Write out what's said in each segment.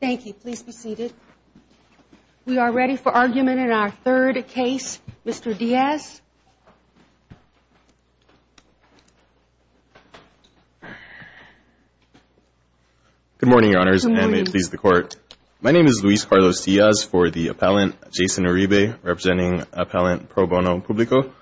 Thank you. Please be seated. We are ready for argument in our third case. Mr. Diaz. Luis Carlos Diaz Good morning, Your Honors, and may it please the Court. My name is Luis Carlos Diaz for the appellant, Jason Uribe, representing Appellant Pro Bono Publico.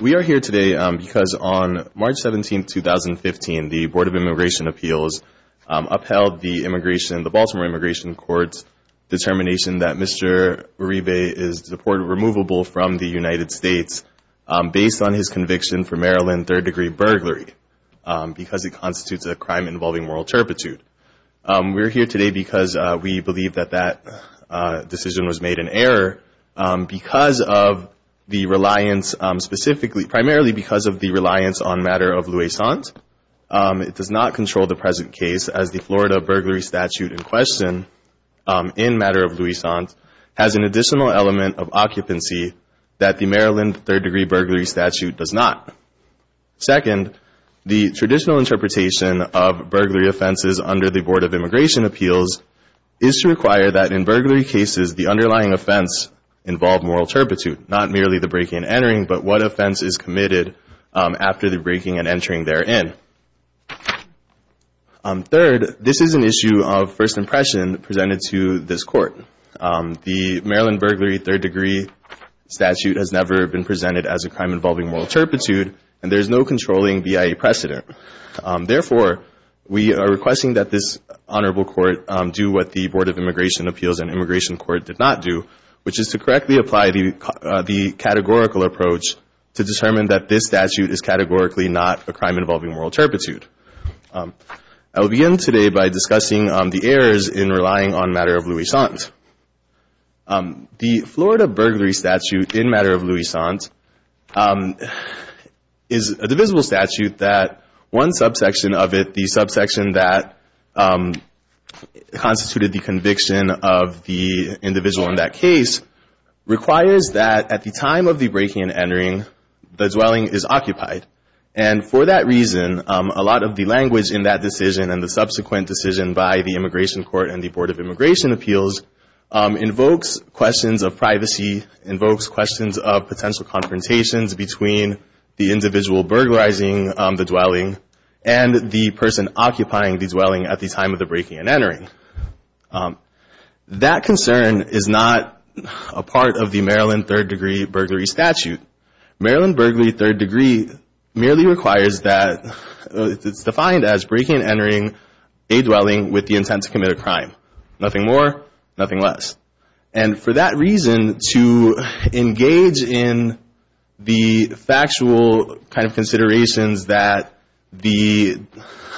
We are here today because on March 17, 2015, the Board of Immigration Appeals upheld the Baltimore Immigration Court's determination that Mr. Uribe is deportable from the United States based on his conviction for Maryland third-degree burglary because it constitutes a crime involving moral turpitude. We are here today because we believe that that decision was made in error because of the reliance specifically, primarily because of the reliance on matter of luisant. It does not control the present case as the Florida that the Maryland third-degree burglary statute does not. Second, the traditional interpretation of burglary offenses under the Board of Immigration Appeals is to require that in burglary cases the underlying offense involve moral turpitude, not merely the breaking and entering, but what offense is committed after the breaking and entering therein. Third, this is an issue of first impression presented to this Court. The Maryland burglary third-degree statute has never been presented as a crime involving moral turpitude and there is no controlling BIA precedent. Therefore, we are requesting that this Honorable Court do what the Board of Immigration Appeals and Immigration Court did not do, which is to correctly apply the categorical approach to determine that this statute is categorically not a crime involving moral turpitude. I will begin today by discussing the errors in relying on matter of luisant. The Florida burglary statute in matter of luisant is a divisible statute that one subsection of it, the subsection that constituted the conviction of the individual in that case requires that at the time of the breaking and entering, the dwelling is occupied. And for that reason, a lot of the language in that decision and the subsequent decision by the Immigration Court and the Board of Immigration Appeals invokes questions of privacy, invokes questions of potential confrontations between the individual burglarizing the dwelling and the person occupying the dwelling at the time of the breaking and entering. That concern is not a part of the Maryland third degree burglary statute. Maryland burglary third degree merely requires that, it's defined as breaking and entering a dwelling with the intent to commit a crime. Nothing more, nothing less. And for that reason, to engage in the factual kind of considerations that the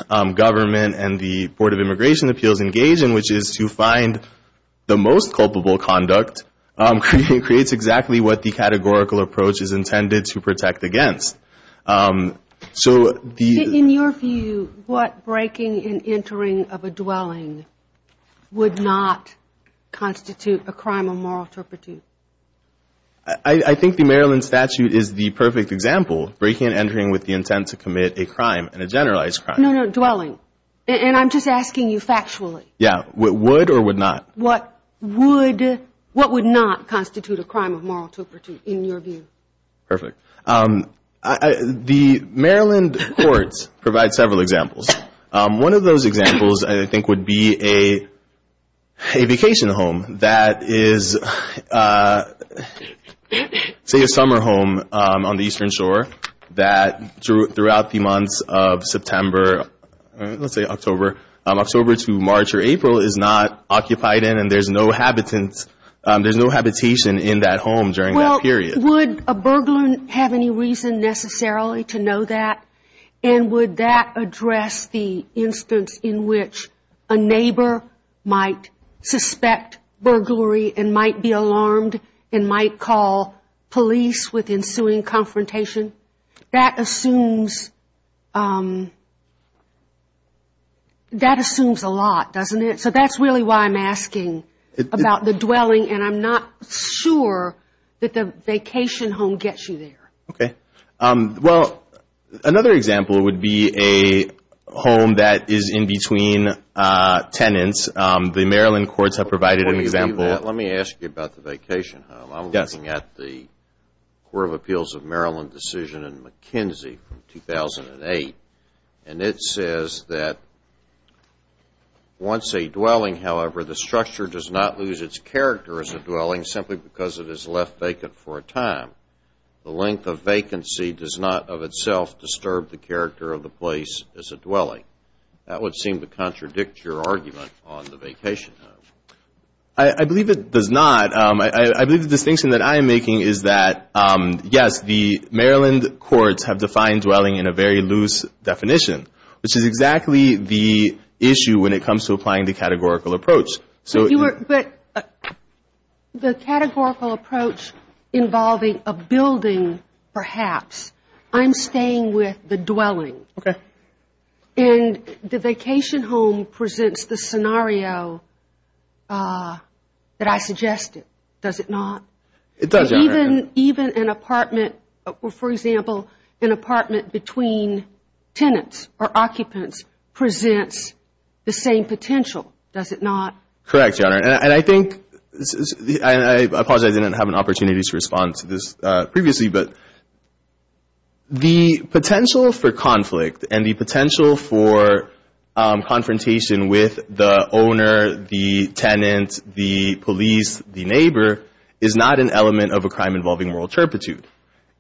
government and the Board of Immigration Appeals engage in, which is to find the most culpable conduct, creates exactly what the categorical approach is intended to protect against. So the... In your view, what breaking and entering of a dwelling would not constitute a crime of moral turpitude? I think the Maryland statute is the perfect example. Breaking and entering with the intent to commit a crime and a generalized crime. No, no, dwelling. And I'm just asking you factually. Yeah. Would or would not? What would, what would not constitute a crime of moral turpitude in your view? Perfect. The Maryland courts provide several examples. One of those examples I think would be a vacation home that is, say a summer home on the eastern shore that throughout the months of September, let's say October, October to March or April is not occupied in and there's no habitants, there's no habitation in that home during that period. Well, would a burglar have any reason necessarily to know that? And would that address the instance in which a neighbor might suspect burglary and might be alarmed and might call police with ensuing confrontation? That assumes, that assumes a lot, doesn't it? So that's really why I'm asking about the dwelling and I'm not sure that the vacation home gets you there. Okay. Well, another example would be a home that is in between tenants. The Maryland courts have provided an example. Let me ask you about the vacation home. I'm looking at the Court of Appeals of Maryland decision in McKinsey from 2008 and it says that once a dwelling, however, the structure does not lose its character as a dwelling simply because it is left vacant for a time. The length of vacancy does not of itself disturb the character of the place as a dwelling. That would seem to contradict your argument on the vacation home. I believe it does not. I believe the distinction that I'm making is that, yes, the Maryland courts have defined dwelling in a very loose definition, which is exactly the issue when it comes to applying the categorical approach. So you are, but the categorical approach involving a building perhaps, I'm staying with the dwelling. Okay. And the vacation home presents the scenario that I suggested, does it not? It does, Your Honor. Even an apartment, for example, an apartment between tenants or occupants presents the same potential, does it not? Correct, Your Honor. And I think, I apologize, I didn't have an opportunity to respond to this previously, but the potential for conflict and the potential for confrontation with the owner, the tenant, the police, the neighbor is not an element of a crime involving moral turpitude.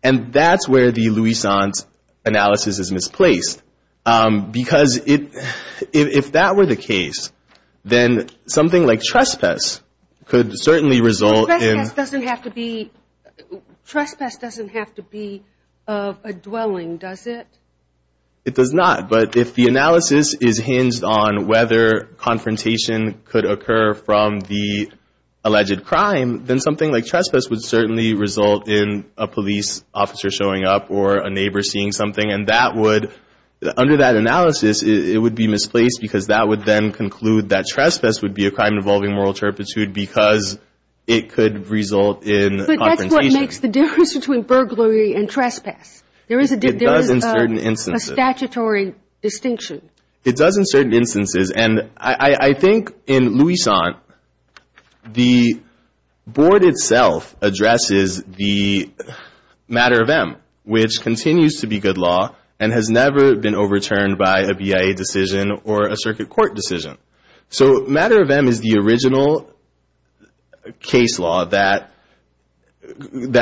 And that's where the Louisant analysis is misplaced. Because if that were the case, then something like trespass could certainly result in Trespass doesn't have to be a dwelling, does it? It does not. But if the analysis is hinged on whether confrontation could occur from the alleged crime, then something like trespass would certainly result in a police officer showing up or a neighbor seeing something. And that would, under that analysis, it would be misplaced because that would then conclude that trespass would be a crime involving moral turpitude because it could result in confrontation. But that's what makes the difference between burglary and trespass. There is a statutory distinction. It does in certain instances. And I think in Louisant, the board itself addresses the matter of M, which continues to be good law and has never been overturned by a BIA decision or a circuit court decision. So matter of M is the original case law that creates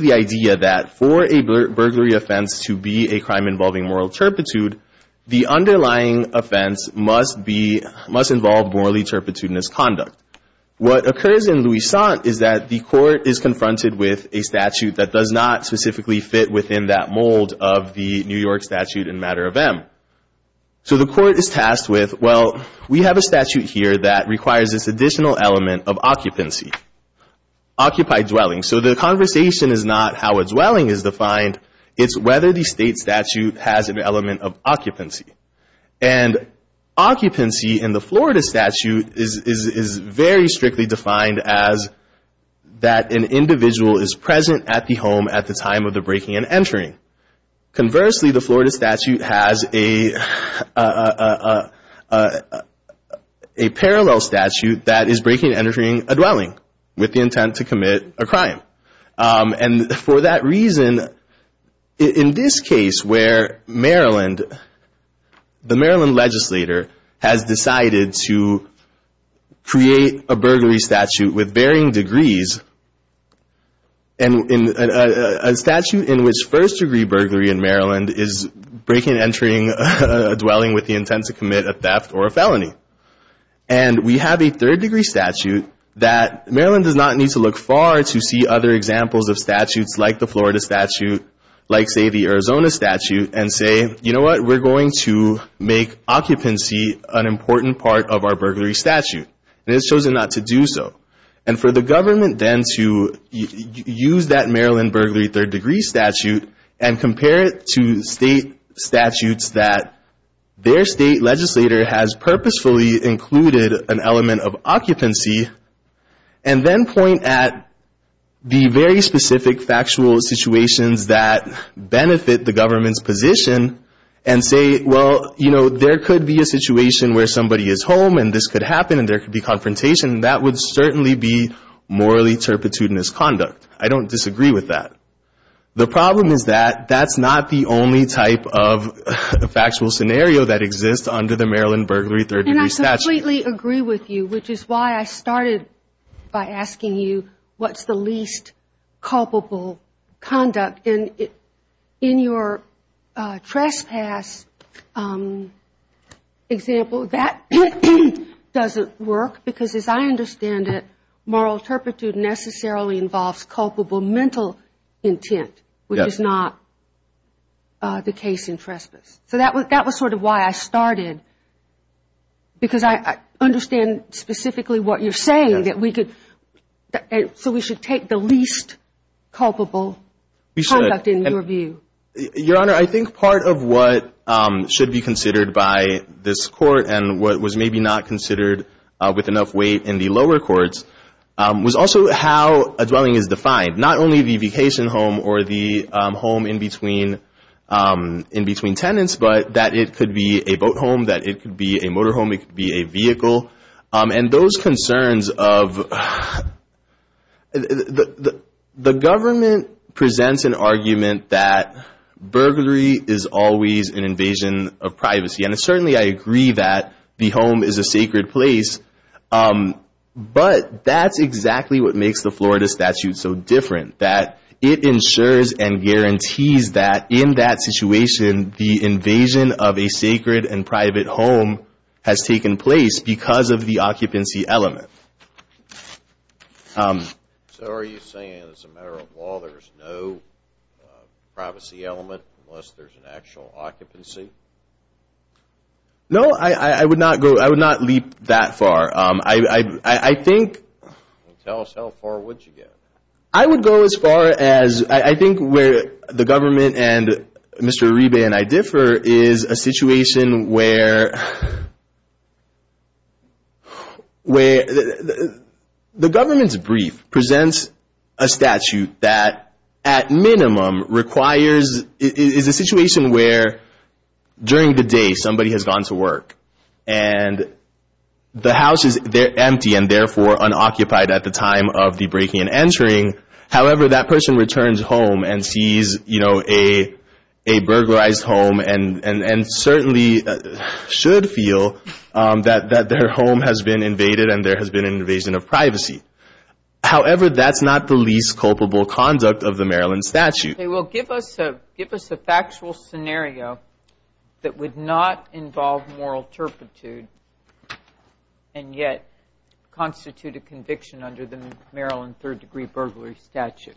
the idea that for a burglary offense to be a crime involving moral turpitude, the underlying offense must involve morally turpitudinous conduct. What occurs in Louisant is that the court is confronted with a statute that does not specifically fit within that mold of the New York statute in matter of M. So the court is tasked with, well, we have a statute here that requires this additional element of occupancy, occupied dwelling. So the conversation is not how a dwelling is defined. It's whether the state statute has an element of occupancy. And occupancy in the Florida statute is very strictly defined as that an individual is committing a crime of the breaking and entering. Conversely, the Florida statute has a parallel statute that is breaking and entering a dwelling with the intent to commit a crime. And for that reason, in this case where Maryland, the Maryland legislator has decided to create a burglary statute with varying degrees and a statute in which first degree burglary in Maryland is breaking and entering a dwelling with the intent to commit a theft or a felony. And we have a third degree statute that Maryland does not need to look far to see other examples of statutes like the Florida statute, like say the Arizona statute, and say, you know what, we're going to make occupancy an important part of our burglary statute. And it's chosen not to do so. And for the government then to use that Maryland burglary third degree statute and compare it to state statutes that their state legislator has purposefully included an element of occupancy and then point at the very specific factual situations that benefit the government's position and say, well, you know, there could be a situation where somebody is home and this could happen and there could be confrontation, that would certainly be morally turpitudinous conduct. I don't disagree with that. The problem is that that's not the only type of factual scenario that exists under the Maryland burglary third degree statute. And I completely agree with you, which is why I started by asking you what's the least culpable conduct in your view. That doesn't work, because as I understand it, moral turpitude necessarily involves culpable mental intent, which is not the case in trespass. So that was sort of why I started, because I understand specifically what you're saying, that we could, so we should take the least culpable conduct in your view. Your Honor, I think part of what should be considered by this court and what was maybe not considered with enough weight in the lower courts was also how a dwelling is defined. Not only the vacation home or the home in between tenants, but that it could be a boat home, that it could be a motor home, it could be a vehicle. And those concerns of, the government presents an argument that burglary is always an invasion of privacy. And certainly I agree that the home is a sacred place, but that's exactly what makes the Florida statute so different, that it ensures and guarantees that in that situation the invasion of a sacred and private home has taken place because of the occupancy element. So are you saying as a matter of law there's no privacy element unless there's an actual occupancy? No, I would not go, I would not leap that far. I think... Tell us how far would you get? I would go as far as, I think where the government and Mr. Arebe and I differ is a situation where the government's brief presents a statute that at minimum requires, is a situation where during the day somebody has gone to work and the house is empty and therefore unoccupied at the time of the breaking and entering. However, that person returns home and sees you know, a burglarized home and certainly should feel that their home has been invaded and there has been an invasion of privacy. However, that's not the least culpable conduct of the Maryland statute. Okay, well give us a factual scenario that would not involve moral turpitude and yet constitute a conviction under the Maryland third degree burglary statute.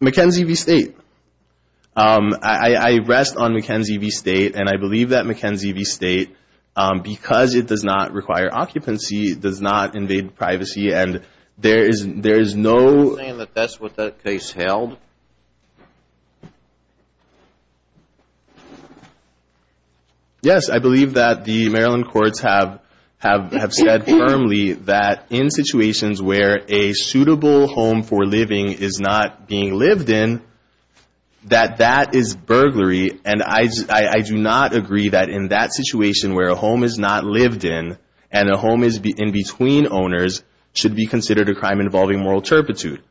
McKenzie v. State. I rest on McKenzie v. State and I believe that McKenzie v. State, because it does not require occupancy, does not invade privacy and there is no... Are you saying that that's what that case held? Yes, I believe that the Maryland courts have said firmly that in situations where a suitable home for living is not being lived in, that that is burglary and I do not agree that in that situation where a home is not lived in and a home is in between owners should be considered a crime involving moral turpitude.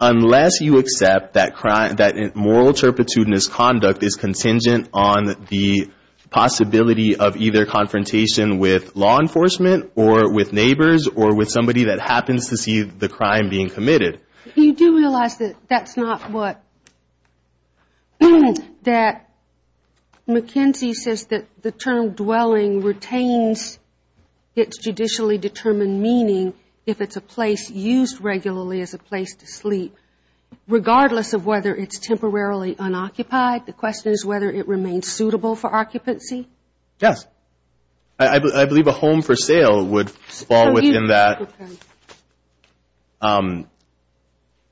Unless you accept that moral turpitudinous conduct is contingent on the possibility of either confrontation with law enforcement or with neighbors or with somebody that happens to see the crime being committed. You do realize that that's not what... That McKenzie says that the term dwelling retains its judicially determined meaning if it's a place used regularly as a place to sleep regardless of whether it's temporarily unoccupied. The question is whether it remains suitable for occupancy. Yes. I believe a home for sale would fall within that.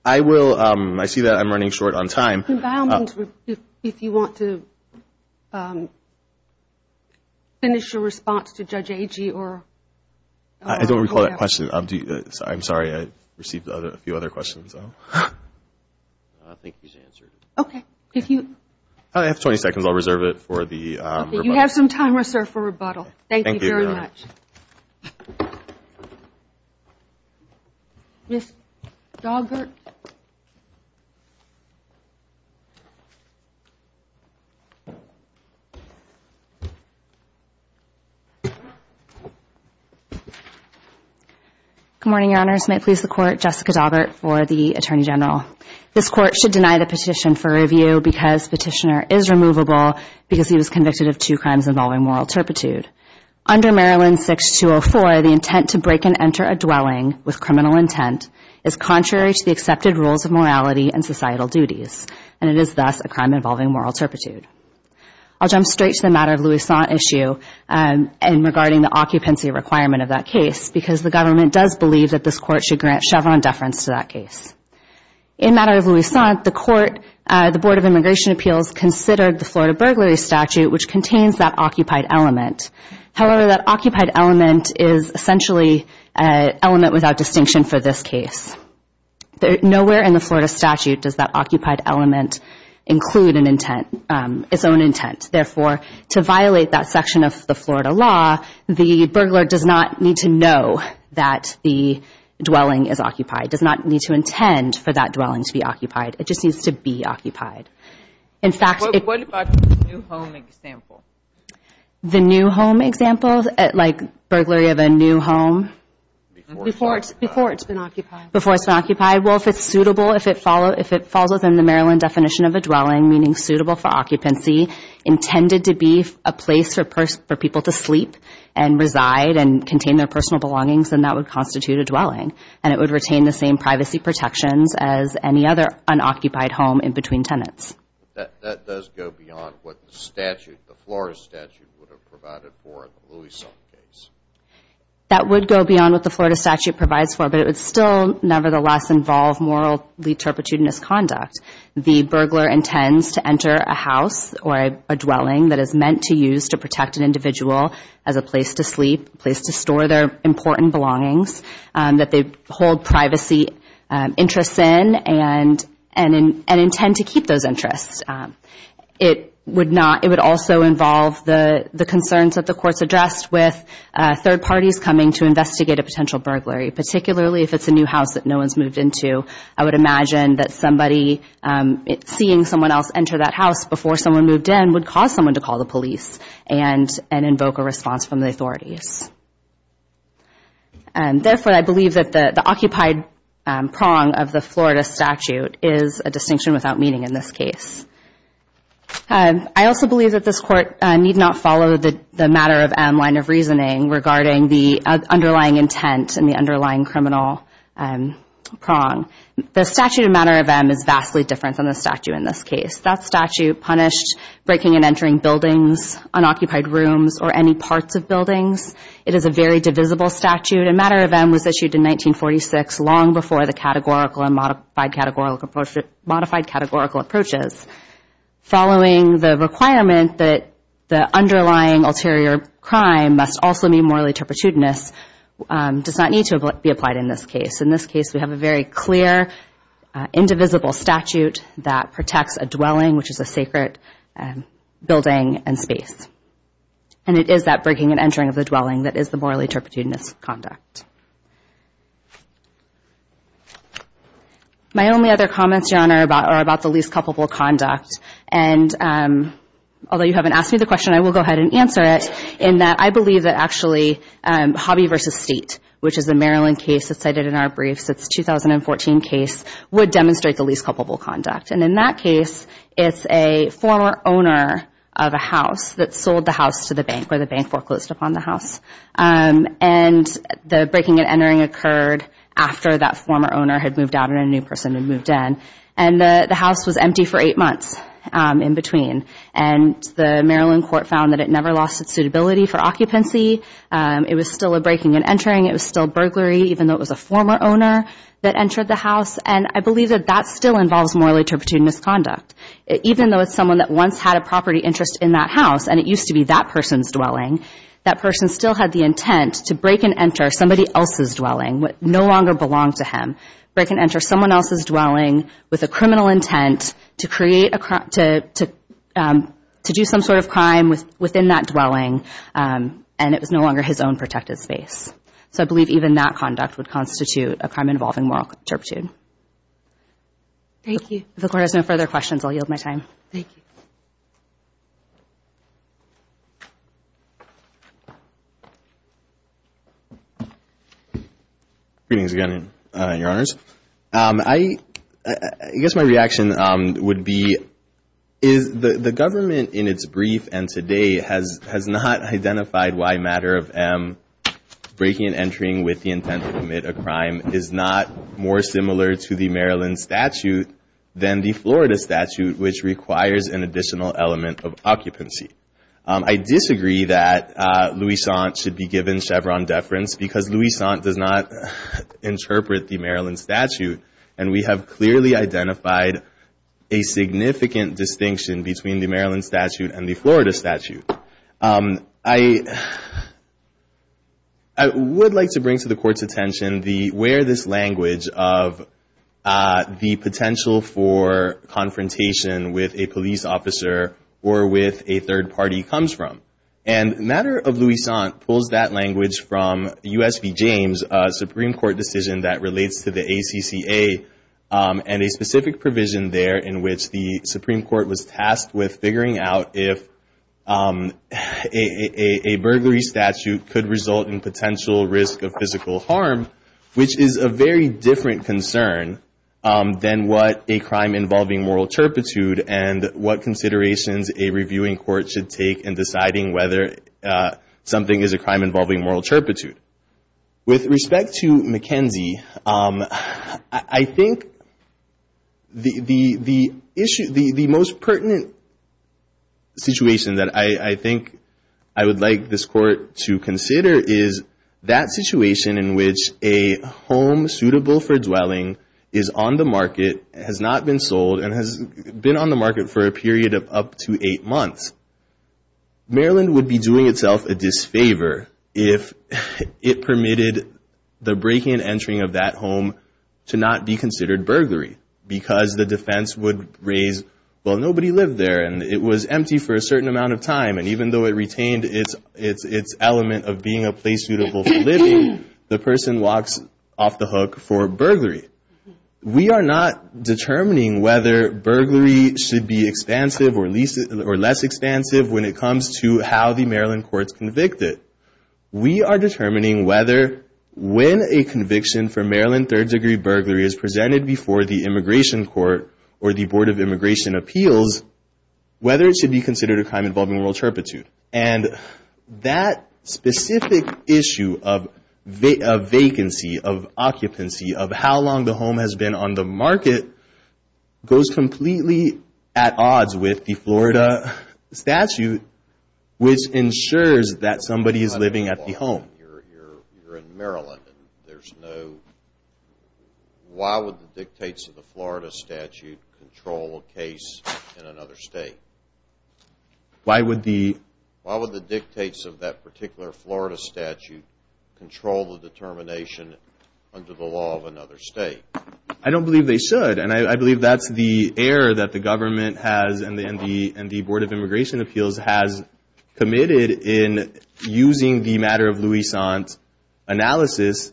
I will... I see that I'm running short on time. If you want to finish your response to Judge Agee or... I don't recall that question. I'm sorry. I received a few other questions. I think he's answered. Okay. I have 20 seconds. I'll reserve it for the... You have some time reserved for rebuttal. Thank you very much. Ms. Daubert? Good morning, Your Honors. May it please the Court, Jessica Daubert for the Attorney General. This Court should deny the petition for review because petitioner is removable because he was convicted of two crimes involving moral turpitude. Under Maryland 6204, the intent to break and enter a dwelling with criminal intent is contrary to the accepted rules of morality and societal duties, and it is thus a crime involving moral turpitude. I'll jump straight to the matter of Louisant issue and regarding the occupancy requirement of that case because the government does believe that this Court should grant Chevron deference to that case. In matter of Louisant, the Court... The Board of Immigration Appeals considered the Florida burglary statute, which contains that occupied element. However, that occupied element is essentially an element without distinction for this case. Nowhere in the Florida statute does that occupied element include its own intent. Therefore, to violate that section of the Florida law, the burglar does not need to know that the dwelling is occupied, does not need to intend for that dwelling to be occupied. It just needs to be occupied. In fact... What about the new home example? The new home example, like burglary of a new home? Before it's been occupied. Before it's been occupied. Well, if it's suitable, if it falls within the Maryland definition of a dwelling, meaning suitable for occupancy, intended to be a place for people to sleep and reside and contain their personal belongings, then that would constitute a dwelling, and it would retain the same privacy protections as any other unoccupied home in between tenants. That does go beyond what the statute, the Florida statute, would have provided for in the Louisant case. That would go beyond what the Florida statute provides for, but it would still nevertheless involve morally turpitude and misconduct. The burglar intends to enter a house or a dwelling that is meant to use to protect an individual as a place to sleep, a place to privacy interests in, and intend to keep those interests. It would also involve the concerns that the courts addressed with third parties coming to investigate a potential burglary, particularly if it's a new house that no one's moved into. I would imagine that seeing someone else enter that house before someone moved in would cause someone to call the police and invoke a response from the authorities. Therefore, I believe that the occupied prong of the Florida statute is a distinction without meaning in this case. I also believe that this Court need not follow the matter of M line of reasoning regarding the underlying intent and the underlying criminal prong. The statute of matter of M is vastly different than the statute in this case. That statute punished breaking and entering buildings, unoccupied rooms, or any parts of buildings. It is a very divisible statute, and matter of M was issued in 1946, long before the categorical and modified categorical approaches. Following the requirement that the underlying ulterior crime must also be morally turpitudinous does not need to be applied in this case. In this case, we have a very clear, indivisible statute that protects a dwelling, which is a sacred building and space. And it is that breaking and entering of the dwelling that is the morally turpitudinous conduct. My only other comments, Your Honor, are about the least culpable conduct. Although you haven't asked me the question, I will go ahead and answer it, in that I believe that actually Hobby v. State, which is a Maryland case that's cited in our briefs, it's a 2014 case, would demonstrate the least culpable conduct. And in that case, it's a former owner of a house that sold the house to the bank, where the bank foreclosed upon the house. And the breaking and entering occurred after that former owner had moved out and a new person had moved in. And the house was empty for eight months in between. And the Maryland court found that it never lost its suitability for occupancy. It was still a breaking and entering. It was still burglary, even though it was a former owner that entered the house. And I believe that that still involves morally turpitudinous conduct. Even though it's someone that once had a property interest in that house, and it used to be that person's dwelling, that person still had the intent to break and enter somebody else's dwelling, what no longer belonged to him. Break and enter someone else's dwelling with a criminal intent to create a crime, to do some sort of crime within that dwelling. And it was no longer his own protected space. So I believe even that conduct would constitute a crime involving moral turpitude. Thank you. If the court has no further questions, I'll yield my time. Thank you. Greetings again, Your Honors. I guess my reaction would be, is the government in its brief and today has not identified why matter of M, breaking and entering with the intent to commit a crime, is not more similar to the Maryland statute than the Florida statute, which requires an additional element of occupancy. I disagree that Luisant should be given Chevron deference because Luisant does not interpret the Maryland statute. And we have clearly identified a federal statute. I would like to bring to the court's attention where this language of the potential for confrontation with a police officer or with a third party comes from. And matter of Luisant pulls that language from U.S. v. James, a Supreme Court decision that relates to the ACCA, and a specific provision there in which the Supreme Court was tasked with figuring out if a burglary statute could result in potential risk of physical harm, which is a very different concern than what a crime involving moral turpitude and what considerations a reviewing court should take in deciding whether something is a crime involving moral turpitude. With respect to McKenzie, I think the issue, the most pertinent issue, is that McKenzie said, the situation that I think I would like this court to consider is that situation in which a home suitable for dwelling is on the market, has not been sold, and has been on the market for a period of up to eight months. Maryland would be doing itself a disfavor if it permitted the breaking and entering of that home to not be considered burglary because the defense would raise, well, nobody lived there, and it was empty for a certain amount of time, and even though it retained its element of being a place suitable for living, the person walks off the hook for burglary. We are not determining whether burglary should be expansive or less expansive when it comes to how the Maryland courts convict it. We are determining whether when a conviction for Maryland third degree burglary is presented before the immigration court or the Board of Immigration Appeals, whether it should be considered a crime involving moral turpitude. That specific issue of vacancy, of occupancy, of how long the home has been on the market goes completely at odds with the Florida statute, which ensures that somebody is living at the home. Why would the dictates of the Florida statute control a case in another state? Why would the dictates of that particular Florida statute control the determination under the law of another state? I don't believe they should, and I believe that's the error that the government has and the Board of Immigration Appeals has committed in using the matter of Louisant analysis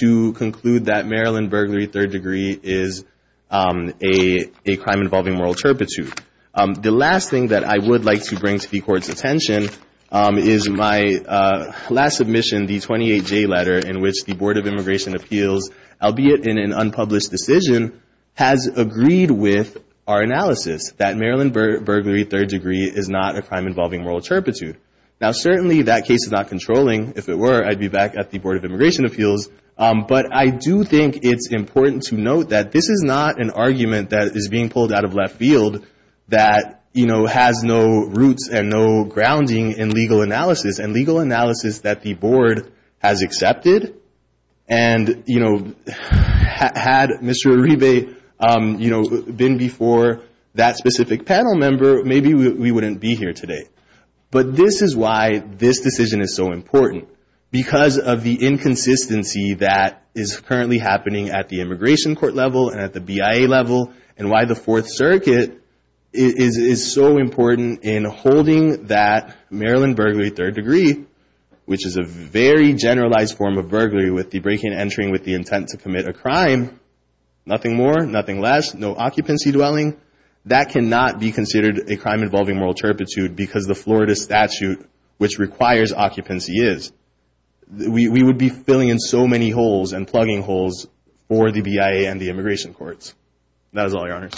to conclude that Maryland burglary third degree is a crime involving moral turpitude. The last thing that I would like to bring to the Court's attention is my last submission, the 28J letter, in which the Board of Immigration Appeals, albeit in an unpublished decision, has agreed with our analysis that Maryland burglary third degree is not a crime involving moral turpitude. Now certainly that case is not controlling. If it were, I'd be back at the Board of Immigration Appeals, but I do think it's important to note that this is not an argument that is being pulled out of left field that has no roots and no grounding in legal analysis, and legal analysis that the Board has accepted, and had Mr. Uribe been before that specific panel member, maybe we wouldn't be here today. But this is why this decision is so important, because of the inconsistency that is currently happening at the immigration court level and at the BIA level, and why the Fourth Circuit is so important in holding that Maryland burglary third degree, which is a very generalized form of burglary with the break-in entering with the intent to commit a crime, nothing more, nothing less, no occupancy dwelling, that cannot be considered a crime involving moral turpitude because the Florida statute which requires occupancy is. We would be filling in so many holes and plugging holes for the BIA and the immigration courts. That is all, Your Honors.